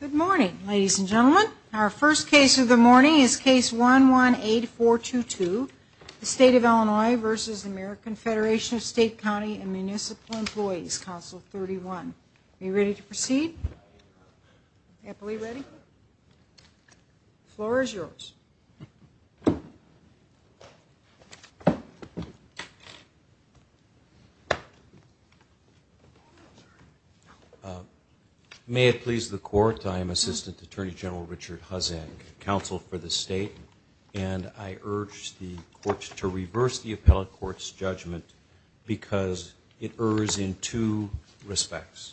Good morning, ladies and gentlemen. Our first case of the morning is case 118422, the State of Illinois v. American Federation of State, County and Municipal Employees Council 31. Are you ready to proceed? Happily ready? The floor is yours. May it please the Court, I am Assistant Attorney General Richard Hussain, Counsel for the State, and I urge the Court to reverse the Appellate Court's judgment because it errs in two respects.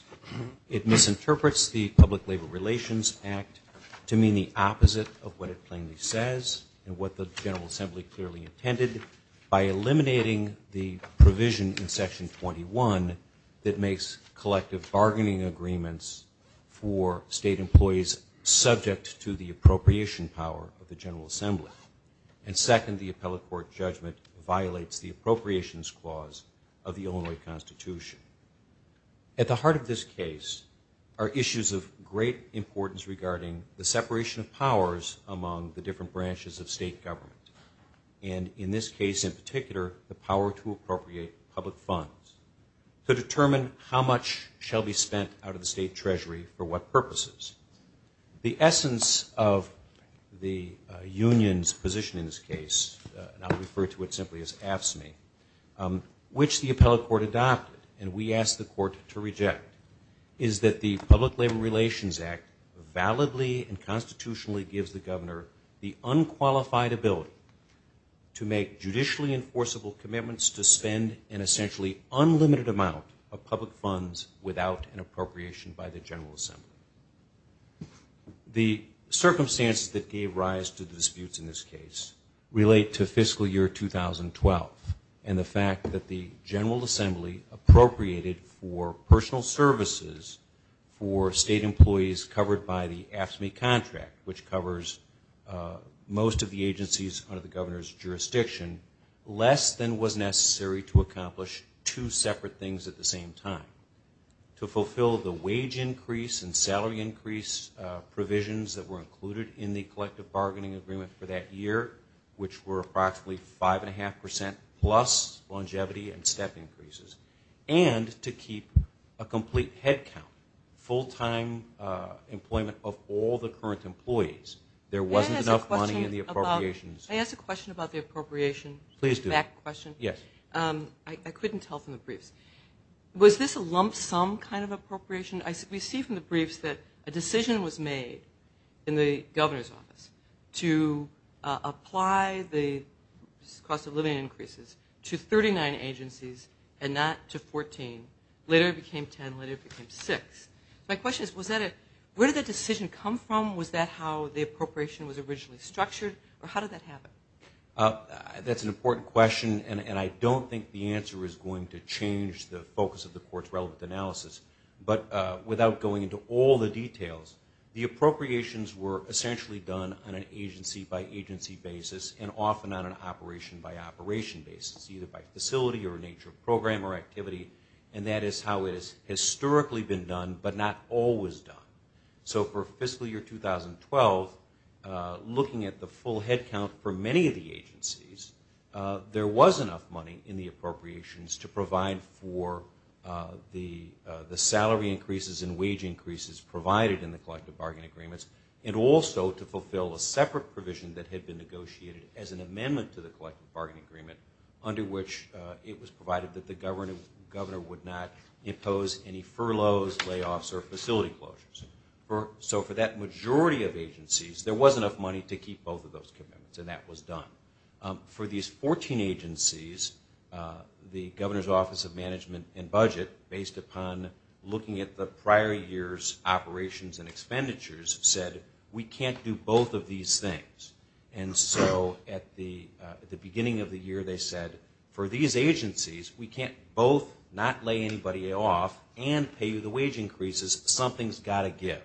It misinterprets the Public Labor Relations Act to mean the opposite of what it plainly says and what the General Assembly clearly intended by eliminating the provision in Section 21 that makes collective bargaining agreements for state employees subject to the appropriation power of the General Assembly. And second, the Appellate Court judgment violates the appropriations clause of the Illinois Constitution. At the heart of this case are issues of great importance regarding the separation of powers among the different branches of state government. And in this case in particular, the power to appropriate public funds to determine how much shall be spent out of the state treasury for what purposes. The essence of the union's position in this case, and I'll refer to it simply as AFSCME, which the Appellate Court adopted and we asked the Court to reject, is that the Public Labor Relations Act validly and constitutionally gives the Governor the unqualified ability to make judicially enforceable commitments to spend an essentially unlimited amount of public funds without an appropriation by the General Assembly. The circumstances that gave rise to the disputes in this case relate to fiscal year 2012 and the fact that the General Assembly appropriated for personal services for state employees covered by the AFSCME contract, which covers most of the agencies under the Governor's jurisdiction, less than was necessary to accomplish two separate things at the same time. To fulfill the wage increase and salary increase provisions that were included in the collective bargaining agreement for that year, which were approximately 5.5% plus longevity and step increases, and to keep a complete head count, full-time employment of all the current employees. There wasn't enough money in the appropriations. I asked a question about the appropriation. Please do. Back question. Yes. I couldn't tell from the briefs. Was this a lump sum kind of appropriation? We see from the briefs that a decision was made in the Governor's office to apply the cost of living increases to 39 agencies and not to 14. Later it became 10. Later it became 6. My question is, where did that decision come from? Was that how the appropriation was originally structured, or how did that happen? That's an important question, and I don't think the answer is going to change the focus of the Court's relevant analysis. But without going into all the details, the appropriations were essentially done on an agency-by-agency basis and often on an operation-by-operation basis, either by facility or nature of program or activity. And that is how it has historically been done, but not always done. So for fiscal year 2012, looking at the full headcount for many of the agencies, there was enough money in the appropriations to provide for the salary increases and wage increases provided in the collective bargaining agreements and also to fulfill a separate provision that had been negotiated as an amendment to the collective bargaining agreement, under which it was provided that the Governor would not impose any furloughs, layoffs, or facility closures. So for that majority of agencies, there was enough money to keep both of those commitments, and that was done. For these 14 agencies, the Governor's Office of Management and Budget, based upon looking at the prior year's operations and expenditures, said, we can't do both of these things. And so at the beginning of the year, they said, for these agencies, we can't both not lay anybody off and pay you the wage increases. Something's got to give.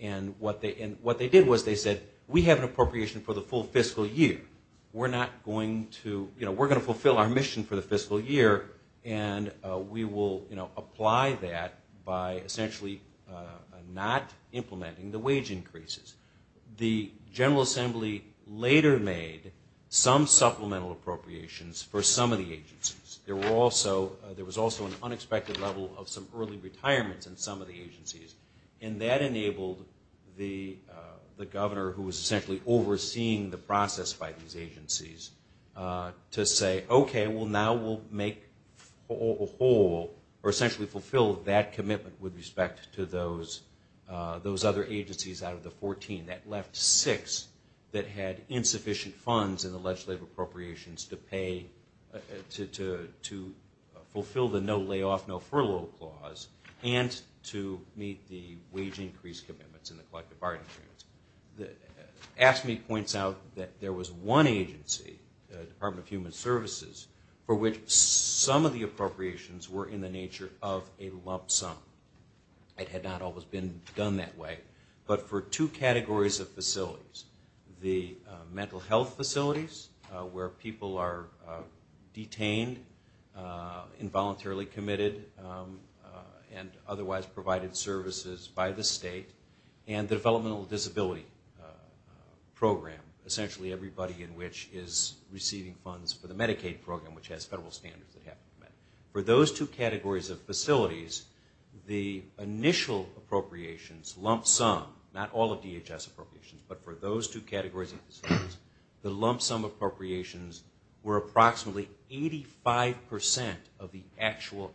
And what they did was they said, we have an appropriation for the full fiscal year. We're going to fulfill our mission for the fiscal year, and we will apply that by essentially not implementing the wage increases. The General Assembly later made some supplemental appropriations for some of the agencies. There was also an unexpected level of some early retirements in some of the agencies, and that enabled the Governor, who was essentially overseeing the process by these agencies, to say, okay, well now we'll make a whole or essentially fulfill that commitment with respect to those other agencies out of the 14. That left six that had insufficient funds in the legislative appropriations to pay, to fulfill the no layoff, no furlough clause, and to meet the wage increase commitments and the collective bargaining agreements. AFSCME points out that there was one agency, the Department of Human Services, for which some of the appropriations were in the nature of a lump sum. It had not always been done that way. But for two categories of facilities, the mental health facilities, where people are detained, involuntarily committed, and otherwise provided services by the state, and the developmental disability program, essentially everybody in which is receiving funds for the Medicaid program, which has federal standards that have to be met. For those two categories of facilities, the initial appropriations, lump sum, not all of DHS appropriations, but for those two categories of facilities, the lump sum appropriations were approximately 85% of the actual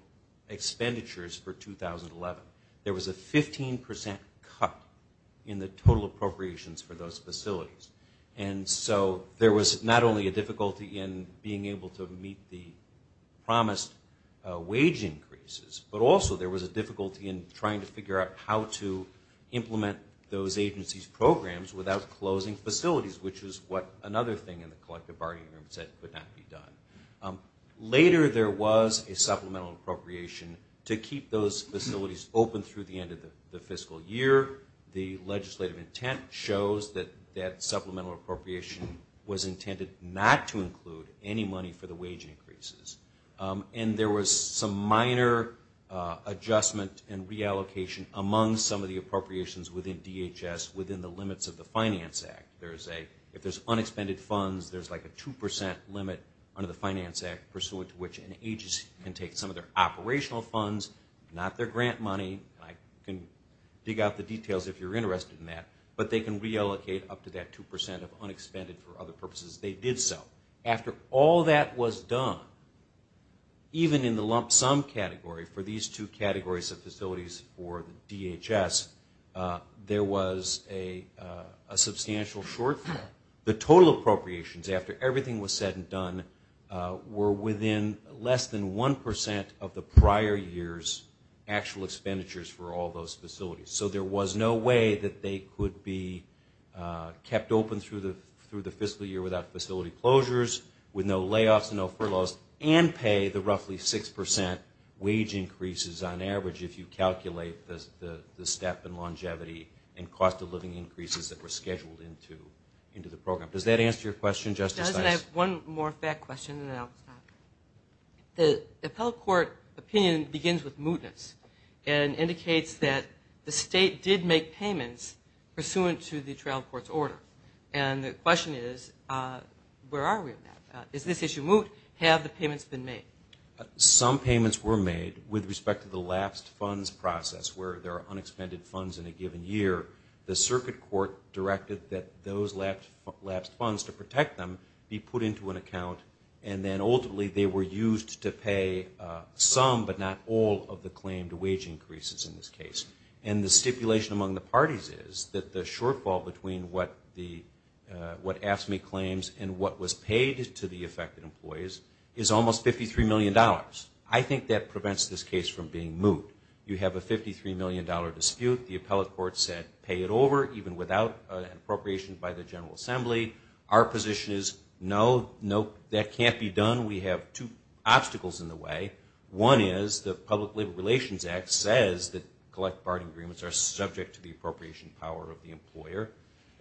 expenditures for 2011. There was a 15% cut in the total appropriations for those facilities. And so there was not only a difficulty in being able to meet the promised wage increases, but also there was a difficulty in trying to figure out how to implement those agencies' programs without closing facilities, which is what another thing in the collective bargaining agreement said could not be done. Later, there was a supplemental appropriation to keep those facilities open through the end of the fiscal year. The legislative intent shows that that supplemental appropriation was intended not to include any money for the wage increases. And there was some minor adjustment and reallocation among some of the appropriations within DHS within the limits of the Finance Act. If there's unexpended funds, there's like a 2% limit under the Finance Act, pursuant to which an agency can take some of their operational funds, not their grant money, and I can dig out the details if you're interested in that, but they can reallocate up to that 2% of unexpended for other purposes. They did so. After all that was done, even in the lump sum category for these two categories of facilities for DHS, there was a substantial shortfall. The total appropriations, after everything was said and done, were within less than 1% of the prior year's actual expenditures for all those facilities. So there was no way that they could be kept open through the fiscal year without facility closures, with no layoffs and no furloughs, and pay the roughly 6% wage increases on average if you calculate the step in longevity and cost of living increases that were scheduled into the program. Does that answer your question, Justice? I have one more fact question and then I'll stop. The appellate court opinion begins with mootness and indicates that the state did make payments pursuant to the trial court's order. And the question is, where are we on that? Is this issue moot? Have the payments been made? Some payments were made with respect to the lapsed funds process where there are unexpended funds in a given year. The circuit court directed that those lapsed funds, to protect them, be put into an account and then ultimately they were used to pay some but not all of the claimed wage increases in this case. And the stipulation among the parties is that the shortfall between what AFSCME claims and what was paid to the affected employees is almost $53 million. I think that prevents this case from being moot. You have a $53 million dispute, the appellate court said pay it over, even without an appropriation by the General Assembly. Our position is no, that can't be done. We have two obstacles in the way. One is the Public Labor Relations Act says that collect barter agreements are subject to the appropriation power of the employer.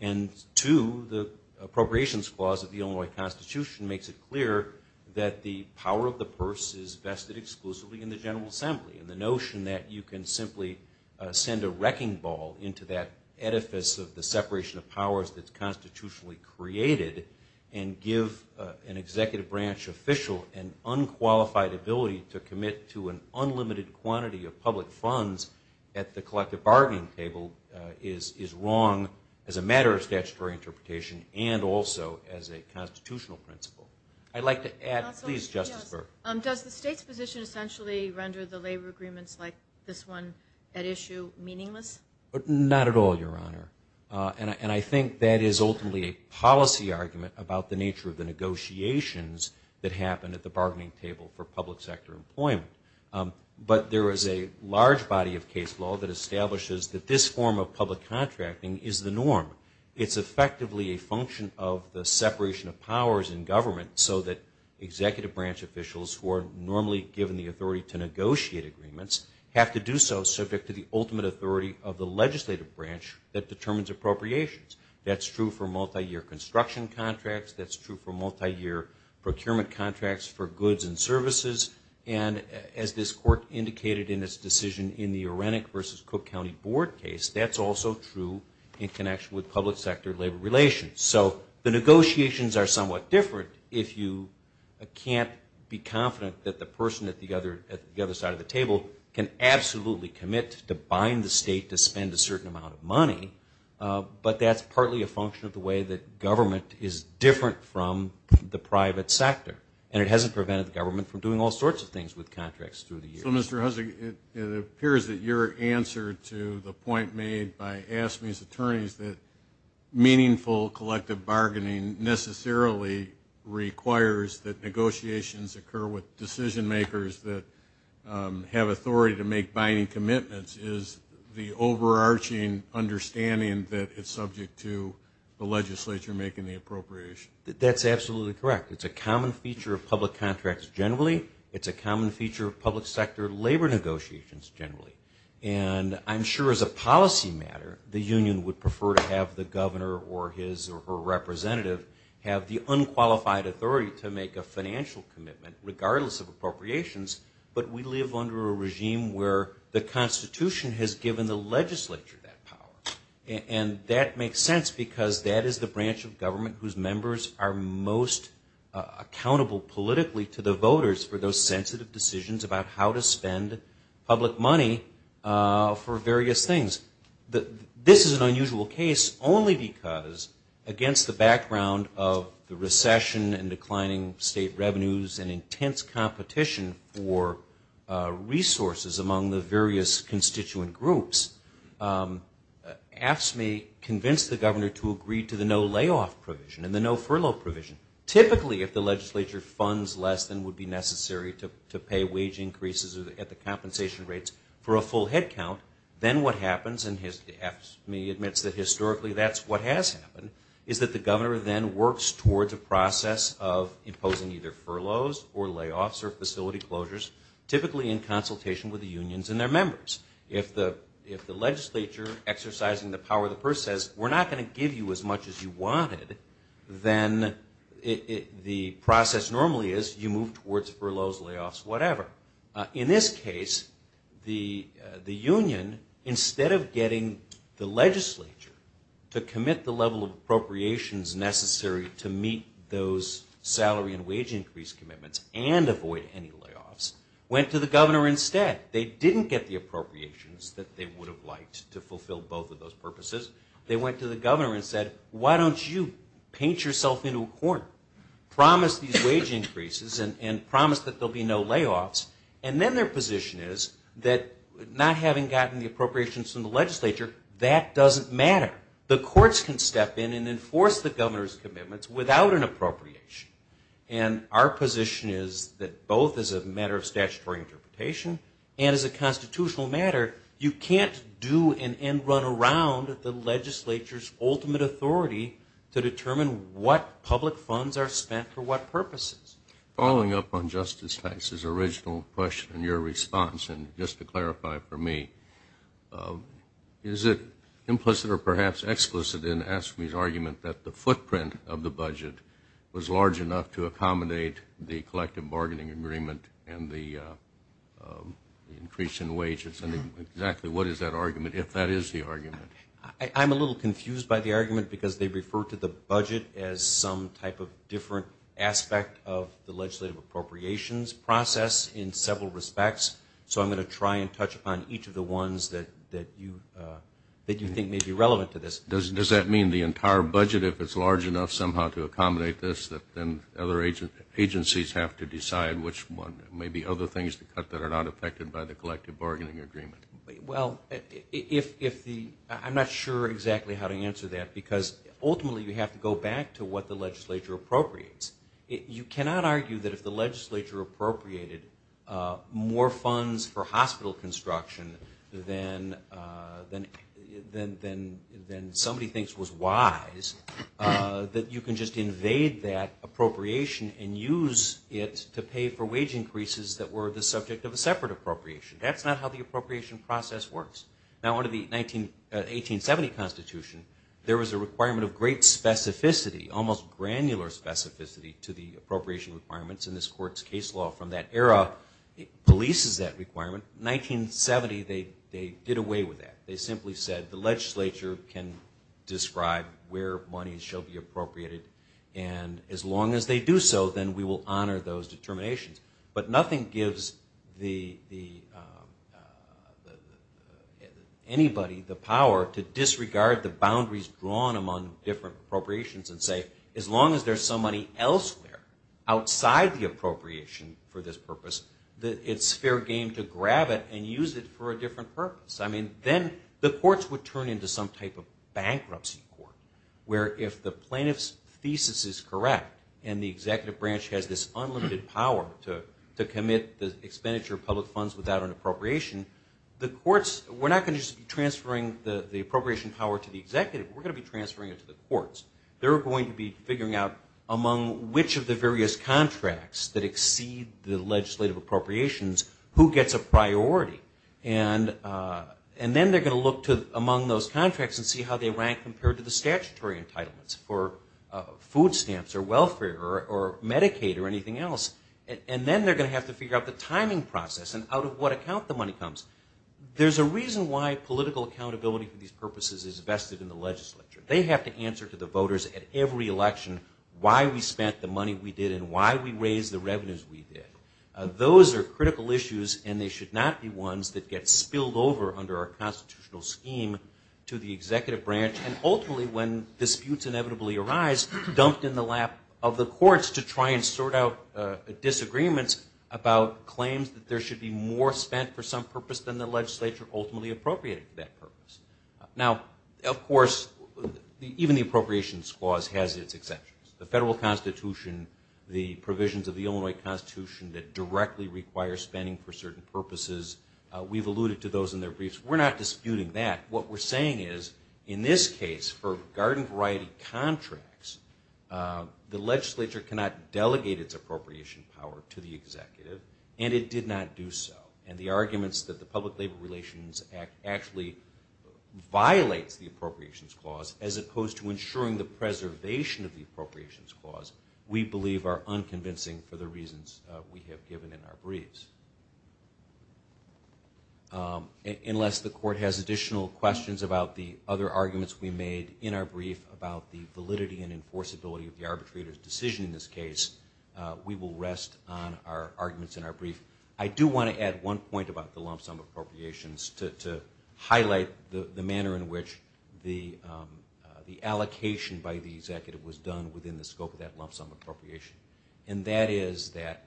And two, the Appropriations Clause of the Illinois Constitution makes it clear that the power of the purse is vested exclusively in the General Assembly. And the notion that you can simply send a wrecking ball into that edifice of the separation of powers that's constitutionally created and give an executive branch official an unqualified ability to commit to an unlimited quantity of public funds at the collective bargaining table is wrong as a matter of statutory interpretation and also as a constitutional principle. I'd like to add, please, Justice Burke. Does the state's position essentially render the labor agreements like this one at issue meaningless? Not at all, Your Honor. And I think that is ultimately a policy argument about the nature of the negotiations that happen at the bargaining table for public sector employment. But there is a large body of case law that establishes that this form of public contracting is the norm. It's effectively a function of the separation of powers in government so that executive branch officials who are normally given the authority to negotiate agreements have to do so subject to the ultimate authority of the legislative branch that determines appropriations. That's true for multi-year construction contracts. That's true for multi-year procurement contracts for goods and services. And as this Court indicated in its decision in the Arenek v. Cook County Board case, that's also true in connection with public sector labor relations. So the negotiations are somewhat different if you can't be confident that the person at the other side of the table can absolutely commit to buying the state to spend a certain amount of money. But that's partly a function of the way that government is different from the private sector. And it hasn't prevented the government from doing all sorts of things with contracts through the years. So, Mr. Hussig, it appears that your answer to the point made by Asmy's attorneys that meaningful collective bargaining necessarily requires that negotiations occur with decision makers that have authority to make binding commitments is the overarching understanding that it's subject to the legislature making the appropriation. That's absolutely correct. It's a common feature of public contracts generally. It's a common feature of public sector labor negotiations generally. And I'm sure as a policy matter, the union would prefer to have the governor or his or her representative have the unqualified authority to make a financial commitment regardless of appropriations. But we live under a regime where the Constitution has given the legislature that power. And that makes sense because that is the branch of government whose members are most accountable politically to the voters for those sensitive decisions about how to spend public money for various things. This is an unusual case only because against the background of the recession and declining state revenues and intense competition for resources among the various constituent groups, Asmy convinced the governor to agree to the no layoff provision and the no furlough provision. Typically if the legislature funds less than would be necessary to pay wage increases at the compensation rates for a full headcount, then what happens, and Asmy admits that historically that's what has happened, is that the governor then works towards a process of imposing either furloughs or layoffs or facility closures typically in consultation with the unions and their members. If the legislature exercising the power of the purse says, we're not going to give you as much as you wanted, then the process normally is you move towards furloughs, layoffs, whatever. In this case, the union, instead of getting the legislature to commit the level of appropriations necessary to meet those salary and wage increase commitments and avoid any layoffs, went to the governor instead. They didn't get the appropriations that they would have liked to fulfill both of those purposes. They went to the governor and said, why don't you paint yourself into a corner, promise these wage increases and promise that there will be no layoffs, and then their position is that not having gotten the appropriations from the legislature, that doesn't matter. The courts can step in and enforce the governor's commitments without an appropriation. And our position is that both as a matter of statutory interpretation and as a constitutional matter, you can't do and run around the legislature's ultimate authority to determine what public funds are spent for what purposes. Following up on Justice Tice's original question and your response, and just to clarify for me, is it implicit or perhaps explicit in Askme's argument that the footprint of the budget was large enough to accommodate the collective bargaining agreement and the increase in wages? And exactly what is that argument, if that is the argument? I'm a little confused by the argument because they refer to the budget as some type of different aspect of the legislative appropriations process in several respects. So I'm going to try and touch upon each of the ones that you think may be relevant to this. Does that mean the entire budget, if it's large enough somehow to accommodate this, then other agencies have to decide which one, maybe other things to cut that are not affected by the collective bargaining agreement? Well, I'm not sure exactly how to answer that because ultimately you have to go back to what the legislature appropriates. You cannot argue that if the legislature appropriated more funds for hospital construction than somebody thinks was wise, that you can just invade that appropriation and use it to pay for wage increases that were the subject of a separate appropriation. That's not how the appropriation process works. Now, under the 1870 Constitution, there was a requirement of great specificity, almost granular specificity to the appropriation requirements, and this court's case law from that era releases that requirement. In 1970, they did away with that. They simply said the legislature can describe where money shall be appropriated, and as long as they do so, then we will honor those determinations. But nothing gives anybody the power to disregard the boundaries drawn among different appropriations and say as long as there's some money elsewhere outside the appropriation for this purpose, it's fair game to grab it and use it for a different purpose. I mean, then the courts would turn into some type of bankruptcy court where if the plaintiff's thesis is correct and the executive branch has this unlimited power to commit the expenditure of public funds without an appropriation, we're not going to just be transferring the appropriation power to the executive. We're going to be transferring it to the courts. They're going to be figuring out among which of the various contracts that exceed the legislative appropriations who gets a priority. And then they're going to look among those contracts and see how they rank compared to the statutory entitlements for food stamps or welfare or Medicaid or anything else. And then they're going to have to figure out the timing process and out of what account the money comes. There's a reason why political accountability for these purposes is vested in the legislature. They have to answer to the voters at every election why we spent the money we did and why we raised the revenues we did. Those are critical issues, and they should not be ones that get spilled over under our constitutional scheme to the executive branch, and ultimately when disputes inevitably arise, dumped in the lap of the courts to try and sort out disagreements about claims that there should be more spent for some purpose than the legislature ultimately appropriated for that purpose. Now, of course, even the Appropriations Clause has its exceptions. The Federal Constitution, the provisions of the Illinois Constitution that directly require spending for certain purposes, we've alluded to those in their briefs. We're not disputing that. What we're saying is in this case for garden variety contracts, the legislature cannot delegate its appropriation power to the executive, and it did not do so. And the arguments that the Public Labor Relations Act actually violates the Appropriations Clause as opposed to ensuring the preservation of the Appropriations Clause, we believe are unconvincing for the reasons we have given in our briefs. Unless the court has additional questions about the other arguments we made in our brief about the validity and enforceability of the arbitrator's decision in this case, we will rest on our arguments in our brief. I do want to add one point about the lump sum appropriations to highlight the manner in which the allocation by the executive was done within the scope of that lump sum appropriation, and that is that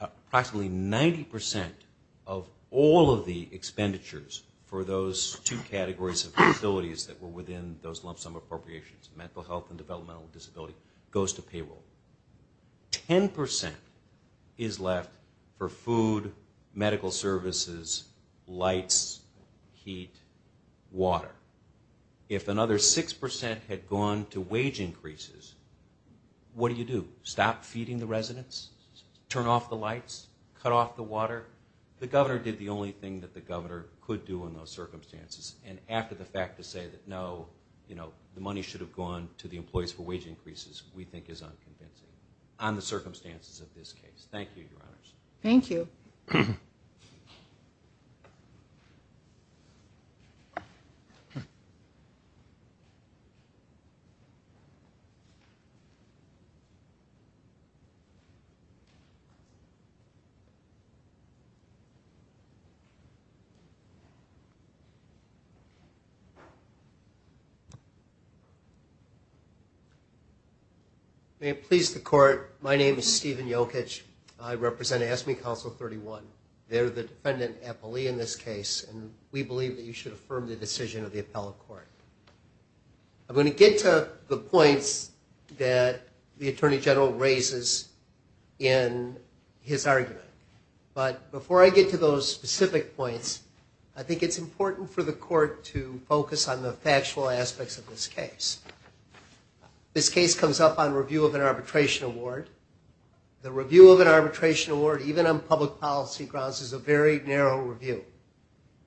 approximately 90% of all of the expenditures for those two categories of facilities that were within those lump sum appropriations, mental health and developmental disability, goes to payroll. 10% is left for food, medical services, lights, heat, water. If another 6% had gone to wage increases, what do you do? Stop feeding the residents? Turn off the lights? Cut off the water? The governor did the only thing that the governor could do in those circumstances, and after the fact to say that no, you know, the money should have gone to the employees for wage increases we think is unconvincing on the circumstances of this case. Thank you, Your Honors. Thank you. May it please the Court, my name is Stephen Jokic. I represent AFSCME Council 31. They're the defendant appellee in this case, and we believe that you should affirm the decision of the appellate court. I'm going to get to the points that the Attorney General raises in his argument, but before I get to those specific points, I think it's important for the court to focus on the factual aspects of this case. This case comes up on review of an arbitration award. The review of an arbitration award, even on public policy grounds, is a very narrow review,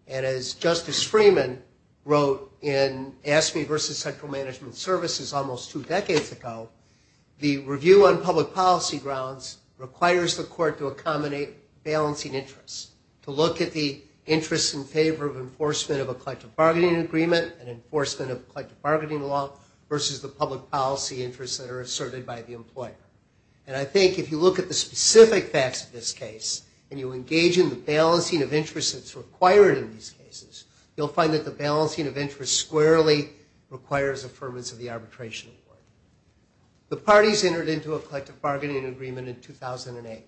and as Justice Freeman wrote in AFSCME versus Central Management Services almost two decades ago, the review on public policy grounds requires the court to accommodate balancing interests, to look at the interests in favor of enforcement of a collective bargaining agreement and enforcement of collective bargaining law versus the public policy interests that are asserted by the employer. And I think if you look at the specific facts of this case and you engage in the balancing of interests that's required in these cases, you'll find that the balancing of interests squarely requires affirmance of the arbitration award. The parties entered into a collective bargaining agreement in 2008.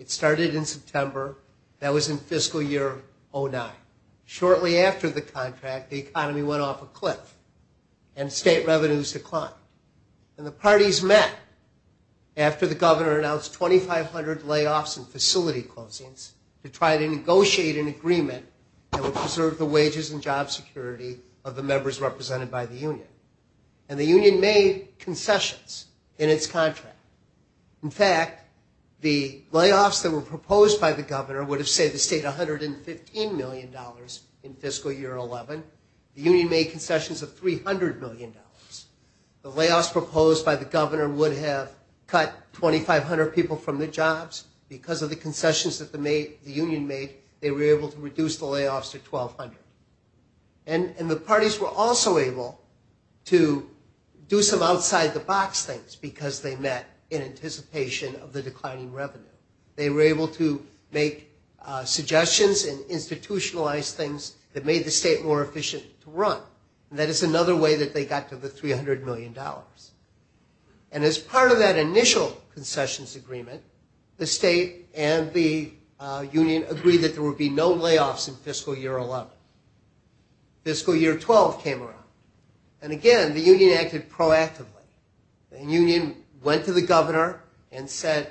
It started in September. That was in fiscal year 2009. Shortly after the contract, the economy went off a cliff and state revenues declined. And the parties met after the governor announced 2,500 layoffs and facility closings to try to negotiate an agreement that would preserve the wages and job security of the members represented by the union. And the union made concessions in its contract. In fact, the layoffs that were proposed by the governor would have saved the state $115 million in fiscal year 2011. The union made concessions of $300 million. The layoffs proposed by the governor would have cut 2,500 people from their jobs. Because of the concessions that the union made, they were able to reduce the layoffs to 1,200. And the parties were also able to do some outside-the-box things because they met in anticipation of the declining revenue. They were able to make suggestions and institutionalize things that made the state more efficient to run. And that is another way that they got to the $300 million. And as part of that initial concessions agreement, the state and the union agreed that there would be no layoffs in fiscal year 11. Fiscal year 12 came around. And again, the union acted proactively. The union went to the governor and said,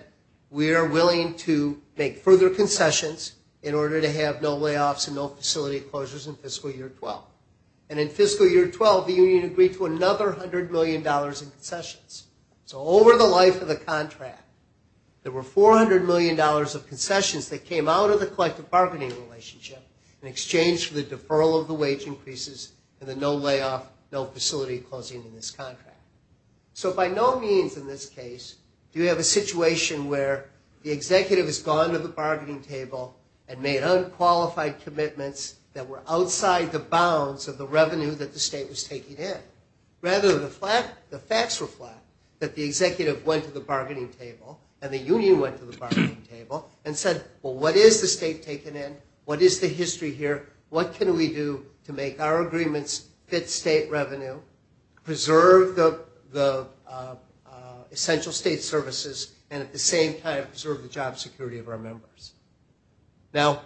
we are willing to make further concessions in order to have no layoffs and no facility closures in fiscal year 12. And in fiscal year 12, the union agreed to another $100 million in concessions. So over the life of the contract, there were $400 million of concessions that came out of the collective bargaining relationship in exchange for the deferral of the wage increases and the no layoff, no facility closing in this contract. So by no means in this case do you have a situation where the executive has gone to the bargaining table and made unqualified commitments that were outside the bounds of the revenue that the state was taking in. Rather, the facts reflect that the executive went to the bargaining table and the union went to the bargaining table and said, well, what is the state taking in? What is the history here? What can we do to make our agreements fit state revenue, preserve the essential state services, and at the same time preserve the job security of our members? Now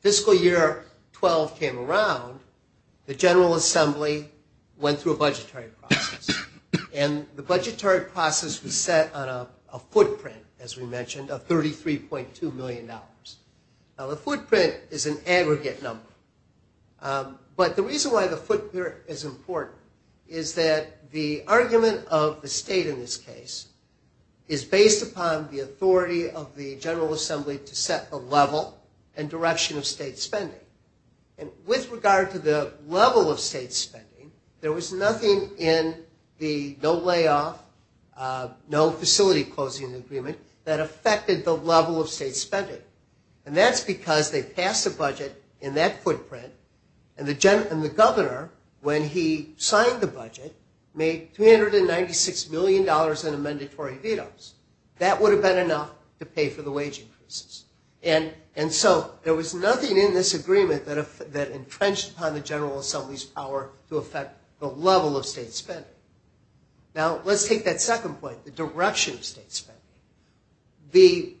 fiscal year 12 came around. The General Assembly went through a budgetary process, and the budgetary process was set on a footprint, as we mentioned, of $33.2 million. Now the footprint is an aggregate number, but the reason why the footprint is important is that the argument of the state in this case is based upon the authority of the General Assembly to set the level and direction of state spending. And with regard to the level of state spending, there was nothing in the no layoff, no facility closing agreement that affected the level of state spending. And that's because they passed a budget in that footprint, and the governor, when he signed the budget, made $396 million in amendatory vetoes. That would have been enough to pay for the wage increases. And so there was nothing in this agreement that entrenched upon the General Assembly's power to affect the level of state spending. Now let's take that second point, the direction of state spending. The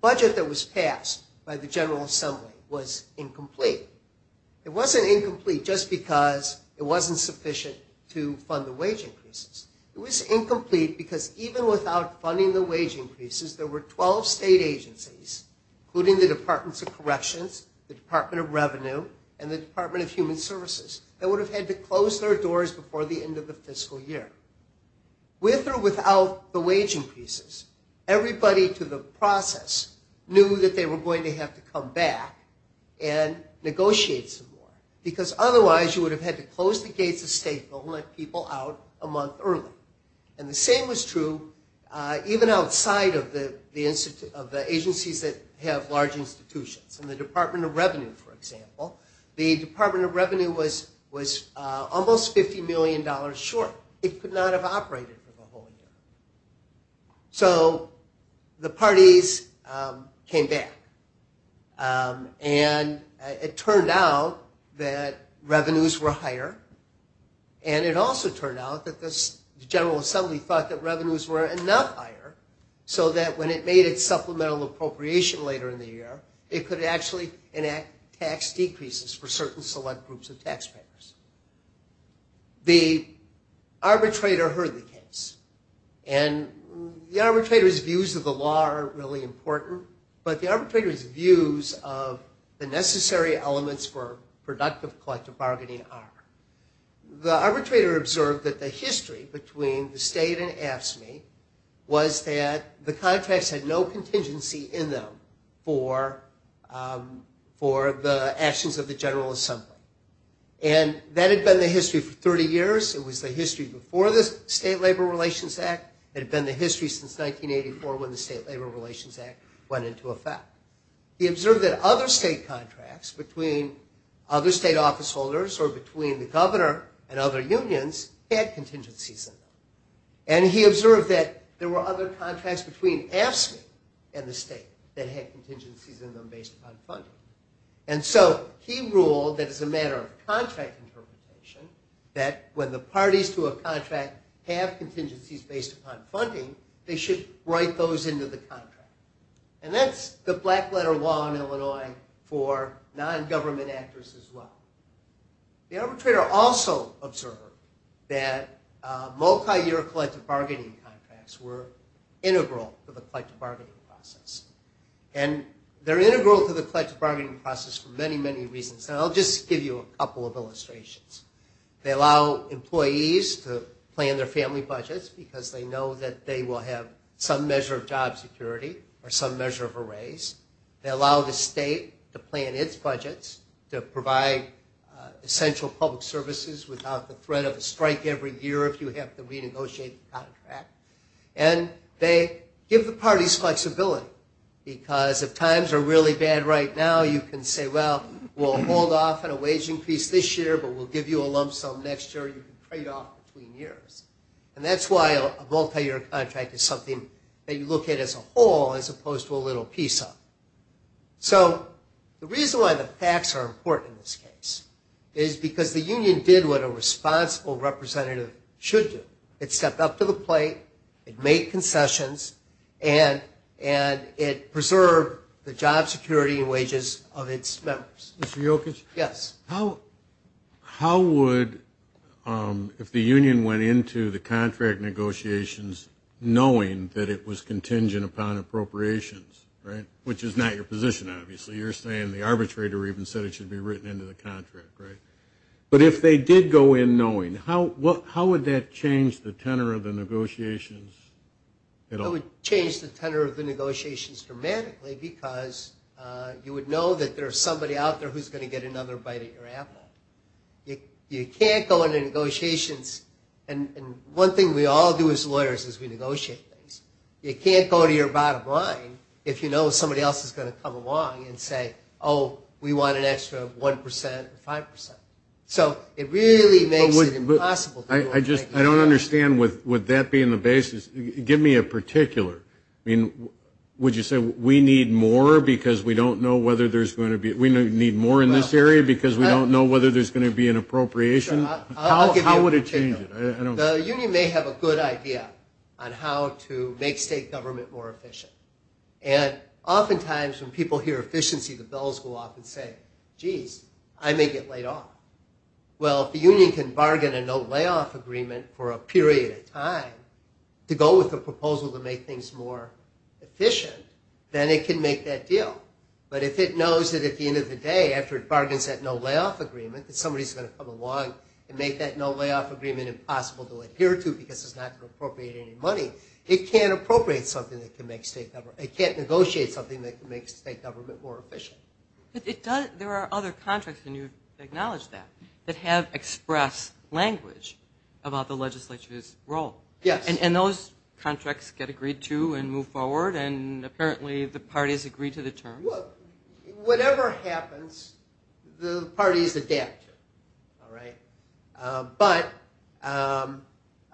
budget that was passed by the General Assembly was incomplete. It wasn't incomplete just because it wasn't sufficient to fund the wage increases. It was incomplete because even without funding the wage increases, there were 12 state agencies, including the Departments of Corrections, the Department of Revenue, and the Department of Human Services, that would have had to close their doors before the end of the fiscal year. With or without the wage increases, everybody to the process knew that they were going to have to come back and negotiate some more because otherwise you would have had to close the gates of state and let people out a month early. And the same was true even outside of the agencies that have large institutions. In the Department of Revenue, for example, the Department of Revenue was almost $50 million short. It could not have operated for the whole year. So the parties came back and it turned out that revenues were higher and it also turned out that the General Assembly thought that revenues were enough higher so that when it made its supplemental appropriation later in the year, it could actually enact tax decreases for certain select groups of taxpayers. The arbitrator heard the case. And the arbitrator's views of the law are really important, but the arbitrator's views of the necessary elements for productive collective bargaining are. The arbitrator observed that the history between the state and AFSCME was that the contracts had no contingency in them for the actions of the General Assembly. And that had been the history for 30 years. It was the history before the State Labor Relations Act. It had been the history since 1984 when the State Labor Relations Act went into effect. He observed that other state contracts between other state officeholders or between the governor and other unions had contingencies in them. And he observed that there were other contracts between AFSCME and the state that had contingencies in them based upon funding. And so he ruled that as a matter of contract interpretation, that when the parties to a contract have contingencies based upon funding, they should write those into the contract. And that's the black letter law in Illinois for non-government actors as well. The arbitrator also observed that multi-year collective bargaining contracts were integral to the collective bargaining process. And they're integral to the collective bargaining process for many, many reasons. And I'll just give you a couple of illustrations. They allow employees to plan their family budgets because they know that they will have some measure of job security or some measure of a raise. They allow the state to plan its budgets to provide essential public services without the threat of a strike every year if you have to renegotiate the contract. And they give the parties flexibility because if times are really bad right now, you can say, well, we'll hold off on a wage increase this year, but we'll give you a lump sum next year. You can trade off between years. And that's why a multi-year contract is something that you look at as a whole as opposed to a little piece of it. So the reason why the facts are important in this case is because the union did what a responsible representative should do. It stepped up to the plate, it made concessions, and it preserved the job security and wages of its members. Mr. Jokic? Yes. How would, if the union went into the contract negotiations knowing that it was contingent upon appropriations, which is not your position, obviously. You're saying the arbitrator even said it should be written into the contract, right? But if they did go in knowing, how would that change the tenor of the negotiations? It would change the tenor of the negotiations dramatically because you would know that there's somebody out there who's going to get another bite at your apple. You can't go into negotiations, and one thing we all do as lawyers is we negotiate things. You can't go to your bottom line if you know somebody else is going to come along and say, oh, we want an extra 1 percent or 5 percent. So it really makes it impossible. I don't understand with that being the basis. Give me a particular. I mean, would you say we need more because we don't know whether there's going to be, we need more in this area because we don't know whether there's going to be an appropriation? How would it change it? The union may have a good idea on how to make state government more efficient, and oftentimes when people hear efficiency, the bells go off and say, geez, I may get laid off. Well, if the union can bargain a no layoff agreement for a period of time to go with the proposal to make things more efficient, then it can make that deal. But if it knows that at the end of the day after it bargains that no layoff agreement that somebody's going to come along and make that no layoff agreement impossible to adhere to because it's not going to appropriate any money, it can't appropriate something that can make state government, it can't negotiate something that can make state government more efficient. But there are other contracts, and you acknowledge that, that have express language about the legislature's role. Yes. And those contracts get agreed to and move forward, and apparently the parties agree to the terms. Whatever happens, the parties adapt to it, all right? But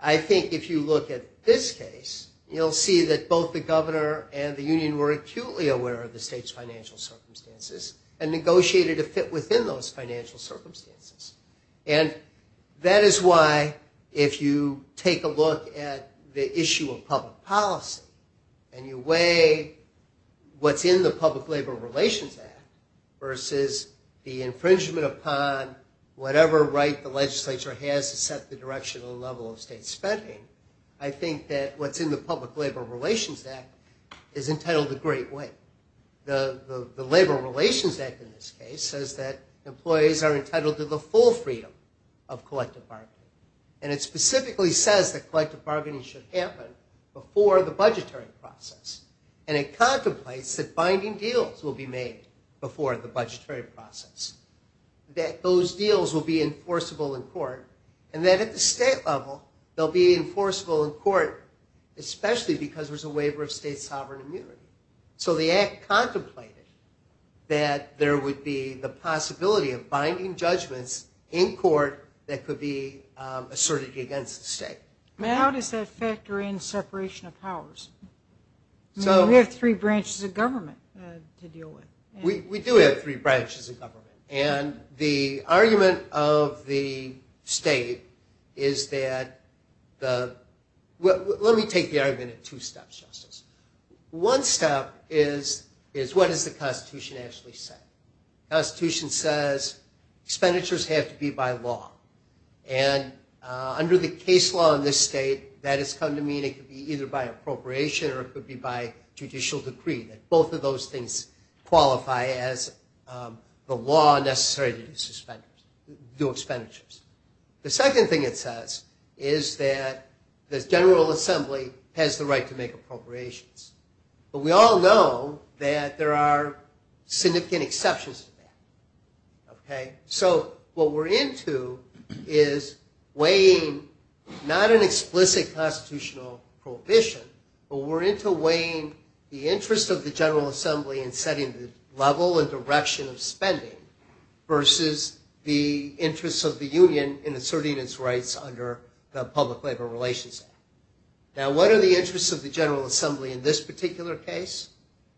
I think if you look at this case, you'll see that both the governor and the union were acutely aware of the state's financial circumstances and negotiated a fit within those financial circumstances. And that is why if you take a look at the issue of public policy and you weigh what's in the Public Labor Relations Act versus the infringement upon whatever right the legislature has to set the directional level of state spending, I think that what's in the Public Labor Relations Act is entitled to great weight. The Labor Relations Act in this case says that employees are entitled to the full freedom of collective bargaining. And it specifically says that collective bargaining should happen before the budgetary process. And it contemplates that binding deals will be made before the budgetary process, that those deals will be enforceable in court, and that at the state level they'll be enforceable in court, especially because there's a waiver of state sovereign immunity. So the act contemplated that there would be the possibility of binding judgments in court that could be asserted against the state. How does that factor in separation of powers? We have three branches of government to deal with. We do have three branches of government. And the argument of the state is that the – let me take the argument in two steps, Justice. One step is what does the Constitution actually say? The Constitution says expenditures have to be by law. And under the case law in this state, that has come to mean it could be either by appropriation or it could be by judicial decree, that both of those things qualify as the law necessary to do expenditures. The second thing it says is that the General Assembly has the right to make appropriations. But we all know that there are significant exceptions to that, okay? So what we're into is weighing not an explicit constitutional prohibition, but we're into weighing the interest of the General Assembly in setting the level and direction of spending versus the interests of the union in asserting its rights under the Public Labor Relations Act. Now, what are the interests of the General Assembly in this particular case?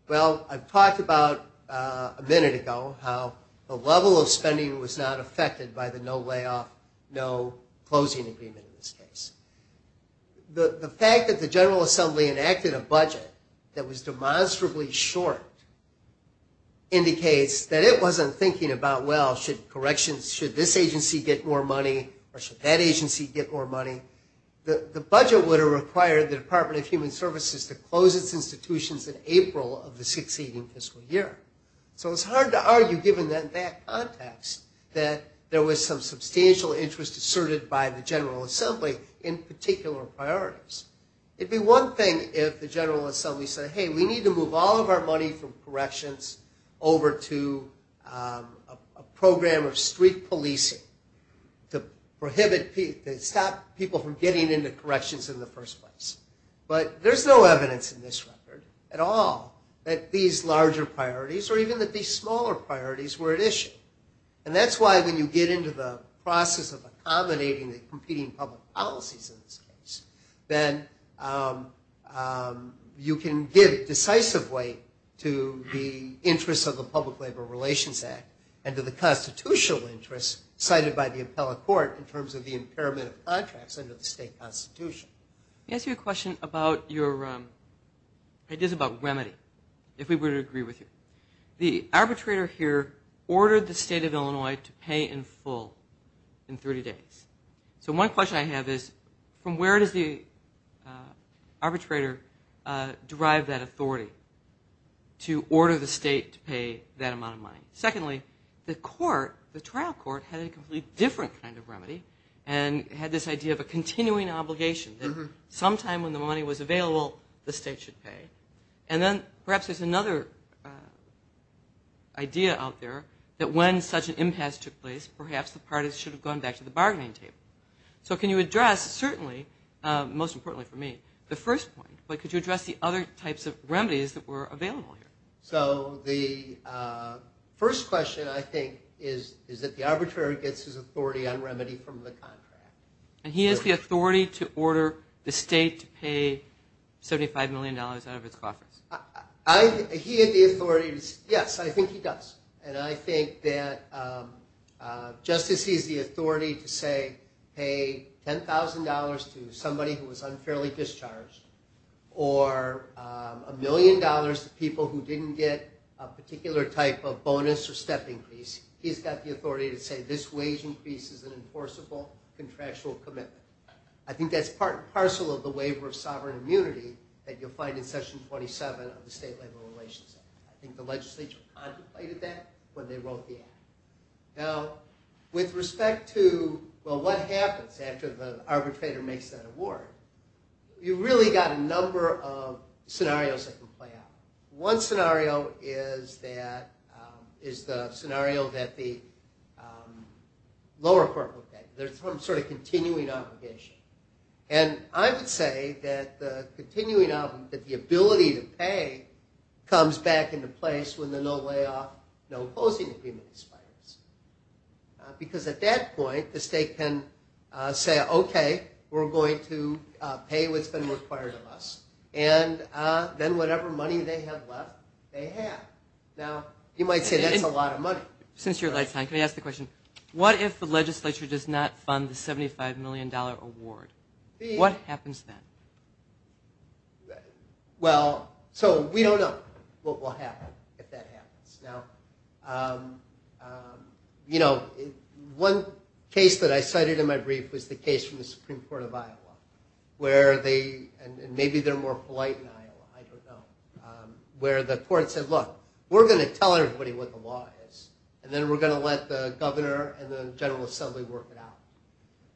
Well, I've talked about a minute ago how the level of spending was not affected by the no layoff, no closing agreement in this case. The fact that the General Assembly enacted a budget that was demonstrably short indicates that it wasn't thinking about, well, should corrections, should this agency get more money or should that agency get more money? The budget would have required the Department of Human Services to close its institutions in April of the succeeding fiscal year. So it's hard to argue, given that context, that there was some substantial interest asserted by the General Assembly in particular priorities. It'd be one thing if the General Assembly said, hey, we need to move all of our money from corrections over to a program of street policing to prohibit, to stop people from getting into corrections in the first place. But there's no evidence in this record at all that these larger priorities or even that these smaller priorities were at issue. And that's why when you get into the process of accommodating the competing public policies in this case, then you can give decisive weight to the interests of the Public Labor Relations Act and to the constitutional interests cited by the appellate court in terms of the impairment of contracts under the state constitution. Let me ask you a question about your ideas about remedy, if we were to agree with you. The arbitrator here ordered the state of Illinois to pay in full in 30 days. So one question I have is, from where does the arbitrator derive that authority to order the state to pay that amount of money? Secondly, the court, the trial court, had a completely different kind of remedy and had this idea of a continuing obligation that sometime when the money was available, the state should pay. And then perhaps there's another idea out there that when such an impasse took place, perhaps the parties should have gone back to the bargaining table. So can you address, certainly, most importantly for me, the first point, but could you address the other types of remedies that were available here? So the first question, I think, is that the arbitrator gets his authority on remedy from the contract. And he has the authority to order the state to pay $75 million out of its coffers. He had the authority to say, yes, I think he does. And I think that just as he has the authority to say pay $10,000 to somebody who was unfairly discharged or a million dollars to people who didn't get a particular type of bonus or step increase, he's got the authority to say this wage increase is an enforceable contractual commitment. I think that's part and parcel of the waiver of sovereign immunity that you'll find in Section 27 of the State Labor Relations Act. I think the legislature contemplated that when they wrote the act. Now, with respect to, well, what happens after the arbitrator makes that award, you've really got a number of scenarios that can play out. One scenario is the scenario that the lower court will take. There's some sort of continuing obligation. And I would say that the continuing obligation, that the ability to pay, comes back into place when the no layoff, no closing agreement is placed. Because at that point, the state can say, okay, we're going to pay what's been required of us. And then whatever money they have left, they have. Now, you might say that's a lot of money. Since you're out of time, can I ask a question? What if the legislature does not fund the $75 million award? What happens then? Well, so we don't know what will happen if that happens. Now, you know, one case that I cited in my brief was the case from the Supreme Court of Iowa, and maybe they're more polite in Iowa, I don't know, where the court said, look, we're going to tell everybody what the law is, and then we're going to let the governor and the General Assembly work it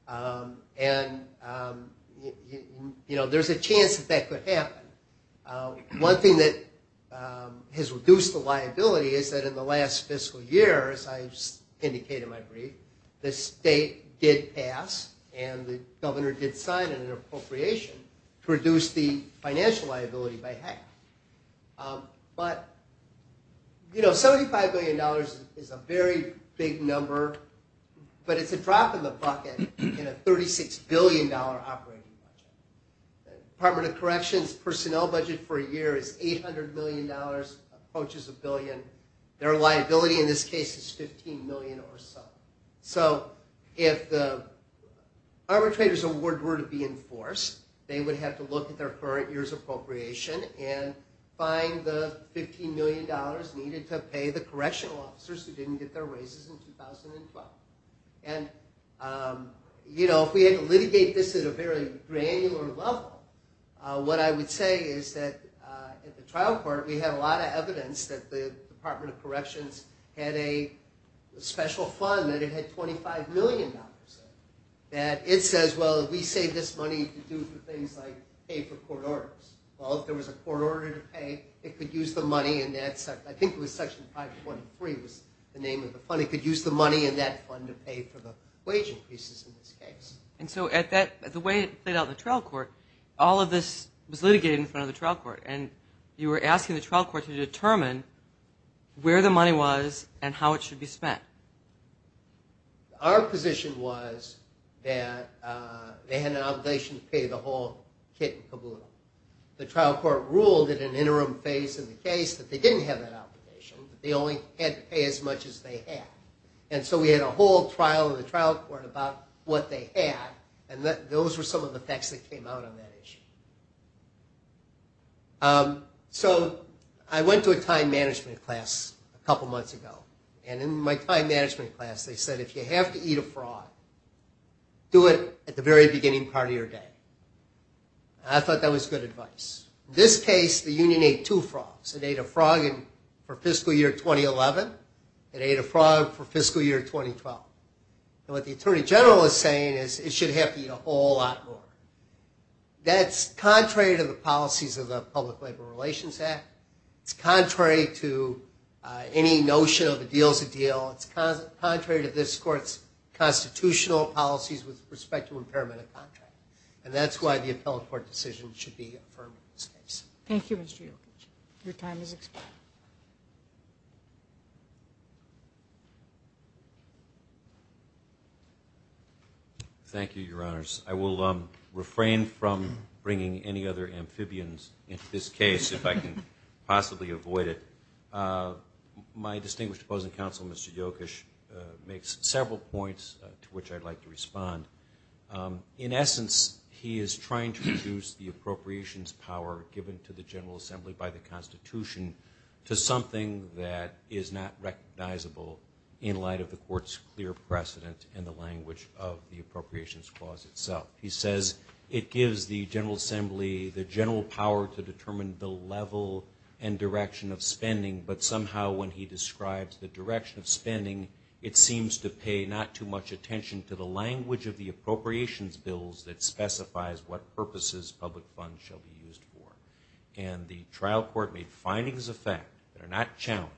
out. And, you know, there's a chance that that could happen. One thing that has reduced the liability is that in the last fiscal year, as I indicated in my brief, the state did pass, and the governor did sign an appropriation to reduce the financial liability by half. But, you know, $75 million is a very big number, but it's a drop in the bucket in a $36 billion operating budget. Department of Corrections personnel budget for a year is $800 million, approaches a billion. Their liability in this case is $15 million or so. So if the arbitrators' award were to be in force, they would have to look at their current year's appropriation and find the $15 million needed to pay the correctional officers who didn't get their raises in 2012. And, you know, if we had to litigate this at a very granular level, what I would say is that at the trial court, we had a lot of evidence that the Department of Corrections had a special fund that it had $25 million in, that it says, well, we saved this money to do things like pay for court orders. Well, if there was a court order to pay, it could use the money in that section. I think it was Section 523 was the name of the fund. It could use the money in that fund to pay for the wage increases in this case. And so the way it played out in the trial court, all of this was litigated in front of the trial court, and you were asking the trial court to determine where the money was and how it should be spent. Our position was that they had an obligation to pay the whole kit and caboodle. The trial court ruled at an interim phase in the case that they didn't have that obligation. They only had to pay as much as they had. And so we had a whole trial of the trial court about what they had, and those were some of the facts that came out of that issue. So I went to a time management class a couple months ago, and in my time management class they said, if you have to eat a frog, do it at the very beginning part of your day. I thought that was good advice. In this case, the union ate two frogs. It ate a frog for fiscal year 2011. It ate a frog for fiscal year 2012. And what the attorney general is saying is it should have to eat a whole lot more. That's contrary to the policies of the Public Labor Relations Act. It's contrary to any notion of a deal is a deal. It's contrary to this court's constitutional policies with respect to impairment of contract. And that's why the appellate court decision should be affirmed in this case. Thank you, Mr. Jokic. Your time has expired. Thank you, Your Honors. I will refrain from bringing any other amphibians into this case if I can possibly avoid it. My distinguished opposing counsel, Mr. Jokic, makes several points to which I'd like to respond. In essence, he is trying to reduce the appropriations power given to the General Assembly by the Constitution to something that is not recognizable in light of the court's clear precedent in the language of the appropriations clause itself. He says it gives the General Assembly the general power to determine the level and direction of spending, but somehow when he describes the direction of spending, it seems to pay not too much attention to the language of the appropriations bills that specifies what purposes public funds shall be used for. And the trial court made findings of fact that are not challenged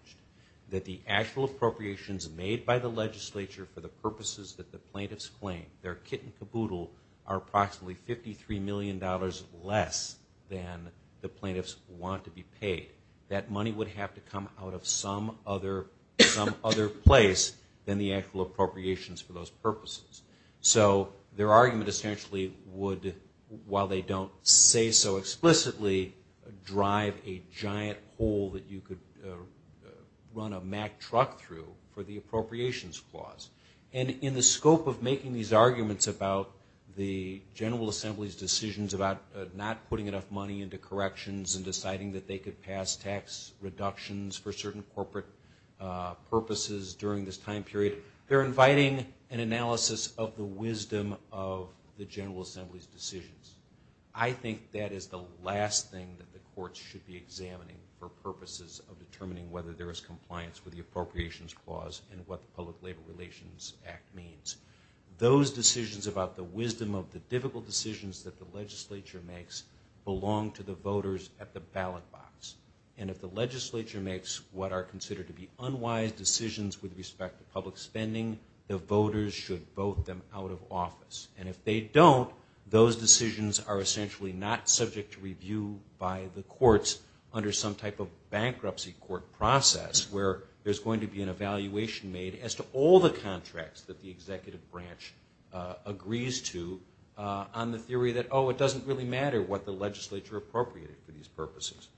that the actual appropriations made by the legislature for the purposes that the plaintiffs claim, their kit and caboodle, are approximately $53 million less than the plaintiffs want to be paid. That money would have to come out of some other place than the actual appropriations for those purposes. So their argument essentially would, while they don't say so explicitly, drive a giant hole that you could run a Mack truck through for the appropriations clause. And in the scope of making these arguments about the General Assembly's decisions about not putting enough money into corrections and deciding that they could pass tax reductions for certain corporate purposes during this time period, they're inviting an analysis of the wisdom of the General Assembly's decisions. I think that is the last thing that the courts should be examining for purposes of determining whether there is compliance with the appropriations clause and what the Public Labor Relations Act means. Those decisions about the wisdom of the difficult decisions that the legislature makes belong to the voters at the ballot box. And if the legislature makes what are considered to be unwise decisions with respect to public spending, the voters should vote them out of office. And if they don't, those decisions are essentially not subject to review by the courts under some type of bankruptcy court process where there's going to be an evaluation made as to all the contracts that the executive branch agrees to on the theory that, oh, it doesn't really matter what the legislature appropriated for these purposes.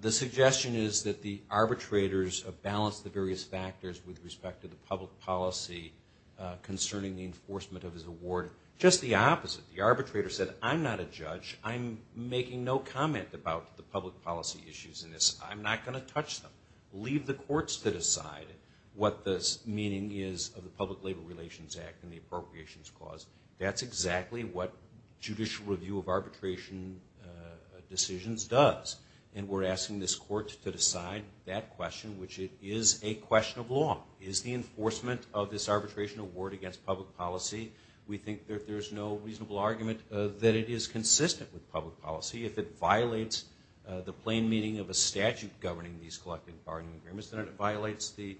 The suggestion is that the arbitrators have balanced the various factors with respect to the public policy concerning the enforcement of this award. Just the opposite. The arbitrator said, I'm not a judge. I'm making no comment about the public policy issues in this. I'm not going to touch them. Leave the courts to decide what the meaning is of the Public Labor Relations Act and the appropriations clause. That's exactly what judicial review of arbitration decisions does. And we're asking this court to decide that question, which it is a question of law. Is the enforcement of this arbitration award against public policy? We think that there's no reasonable argument that it is consistent with public policy. If it violates the plain meaning of a statute governing these collective bargaining agreements, then it violates the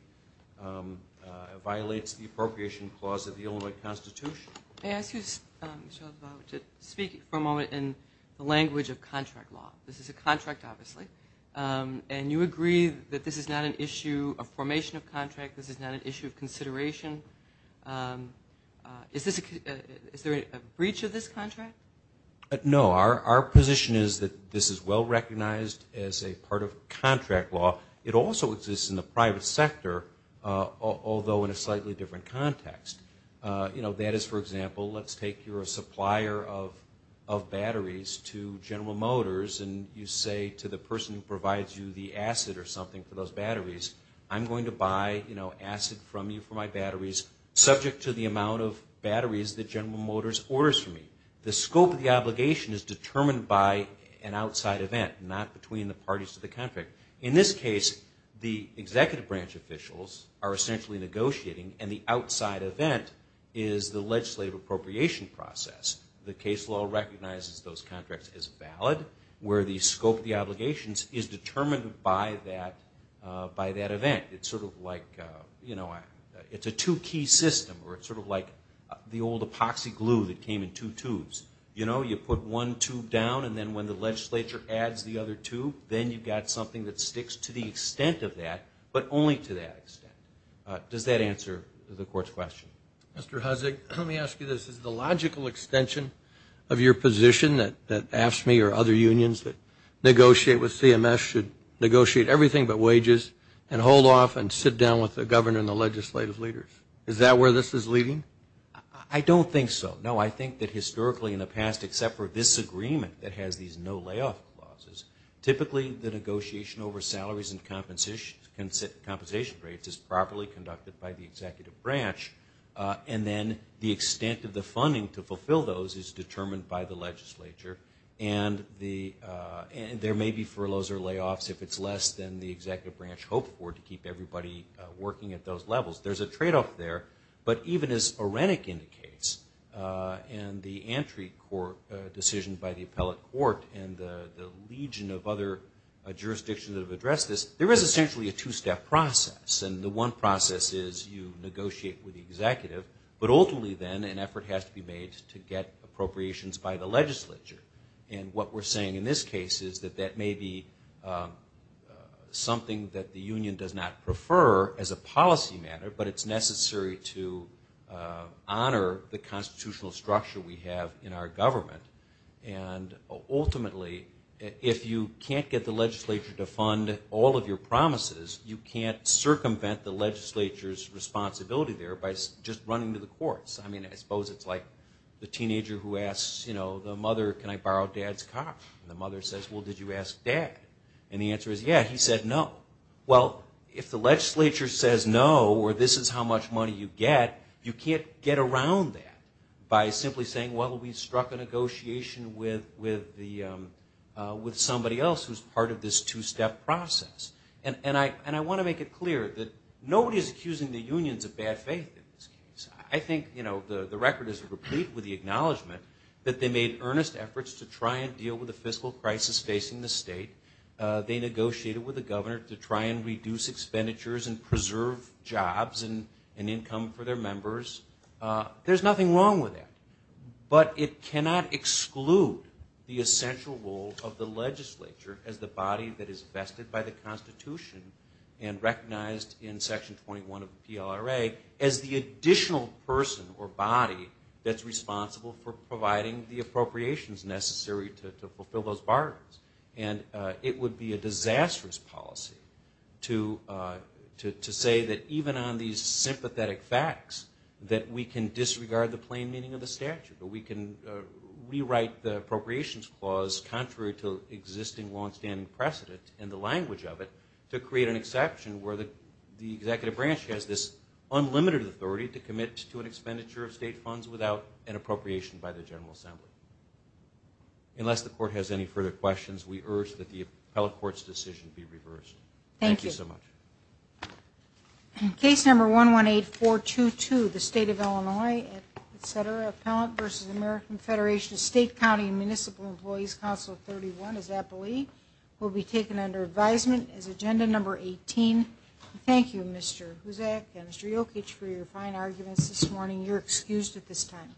appropriation clause of the Illinois Constitution. May I ask you, Michelle, to speak for a moment in the language of contract law? This is a contract, obviously. And you agree that this is not an issue of formation of contract. This is not an issue of consideration. Is there a breach of this contract? No. Our position is that this is well recognized as a part of contract law. It also exists in the private sector, although in a slightly different context. That is, for example, let's take you're a supplier of batteries to General Motors and you say to the person who provides you the acid or something for those batteries, I'm going to buy acid from you for my batteries, subject to the amount of batteries that General Motors orders from me. The scope of the obligation is determined by an outside event, not between the parties of the contract. In this case, the executive branch officials are essentially negotiating, and the outside event is the legislative appropriation process. The case law recognizes those contracts as valid, where the scope of the obligations is determined by that event. It's sort of like, you know, it's a two-key system, or it's sort of like the old epoxy glue that came in two tubes. You know, you put one tube down, and then when the legislature adds the other tube, then you've got something that sticks to the extent of that, but only to that extent. Does that answer the court's question? Mr. Hussig, let me ask you this. Is the logical extension of your position that AFSCME or other unions that negotiate with CMS should negotiate everything but wages and hold off and sit down with the governor and the legislative leaders? Is that where this is leading? I don't think so. No, I think that historically in the past, except for this agreement that has these no layoff clauses, typically the negotiation over salaries and compensation rates is properly conducted by the executive branch, and then the extent of the funding to fulfill those is determined by the legislature, and there may be furloughs or layoffs if it's less than the executive branch hoped for to keep everybody working at those levels. There's a tradeoff there. But even as Orenic indicates, and the entry court decision by the appellate court and the legion of other jurisdictions that have addressed this, there is essentially a two-step process, and the one process is you negotiate with the executive, but ultimately then an effort has to be made to get appropriations by the legislature, and what we're saying in this case is that that may be something that the union does not prefer as a policy matter, but it's necessary to honor the constitutional structure we have in our government, and ultimately if you can't get the legislature to fund all of your promises, you can't circumvent the legislature's responsibility there by just running to the courts. I mean, I suppose it's like the teenager who asks the mother, can I borrow Dad's car? And the mother says, well, did you ask Dad? And the answer is, yeah, he said no. Well, if the legislature says no or this is how much money you get, you can't get around that by simply saying, well, we struck a negotiation with somebody else who's part of this two-step process. And I want to make it clear that nobody is accusing the unions of bad faith in this case. I think the record is complete with the acknowledgement that they made earnest efforts to try and deal with the fiscal crisis facing the state. They negotiated with the governor to try and reduce expenditures and preserve jobs and income for their members. There's nothing wrong with that, but it cannot exclude the essential role of the legislature as the body that is vested by the Constitution and recognized in Section 21 of the PLRA as the additional person or body that's responsible for providing the appropriations necessary to fulfill those burdens. And it would be a disastrous policy to say that even on these sympathetic facts that we can disregard the plain meaning of the statute, that we can rewrite the appropriations clause contrary to existing longstanding precedent and the language of it to create an exception where the executive branch has this unlimited authority to commit to an expenditure of state funds without an appropriation by the General Assembly. Unless the court has any further questions, we urge that the appellate court's decision be reversed. Thank you so much. Thank you. Case number 118422, the State of Illinois, etc., Appellant v. American Federation of State, County, and Municipal Employees, Council 31, is that believed, will be taken under advisement as agenda number 18. Thank you, Mr. Huzak and Mr. Jokic, for your fine arguments this morning. You're excused at this time.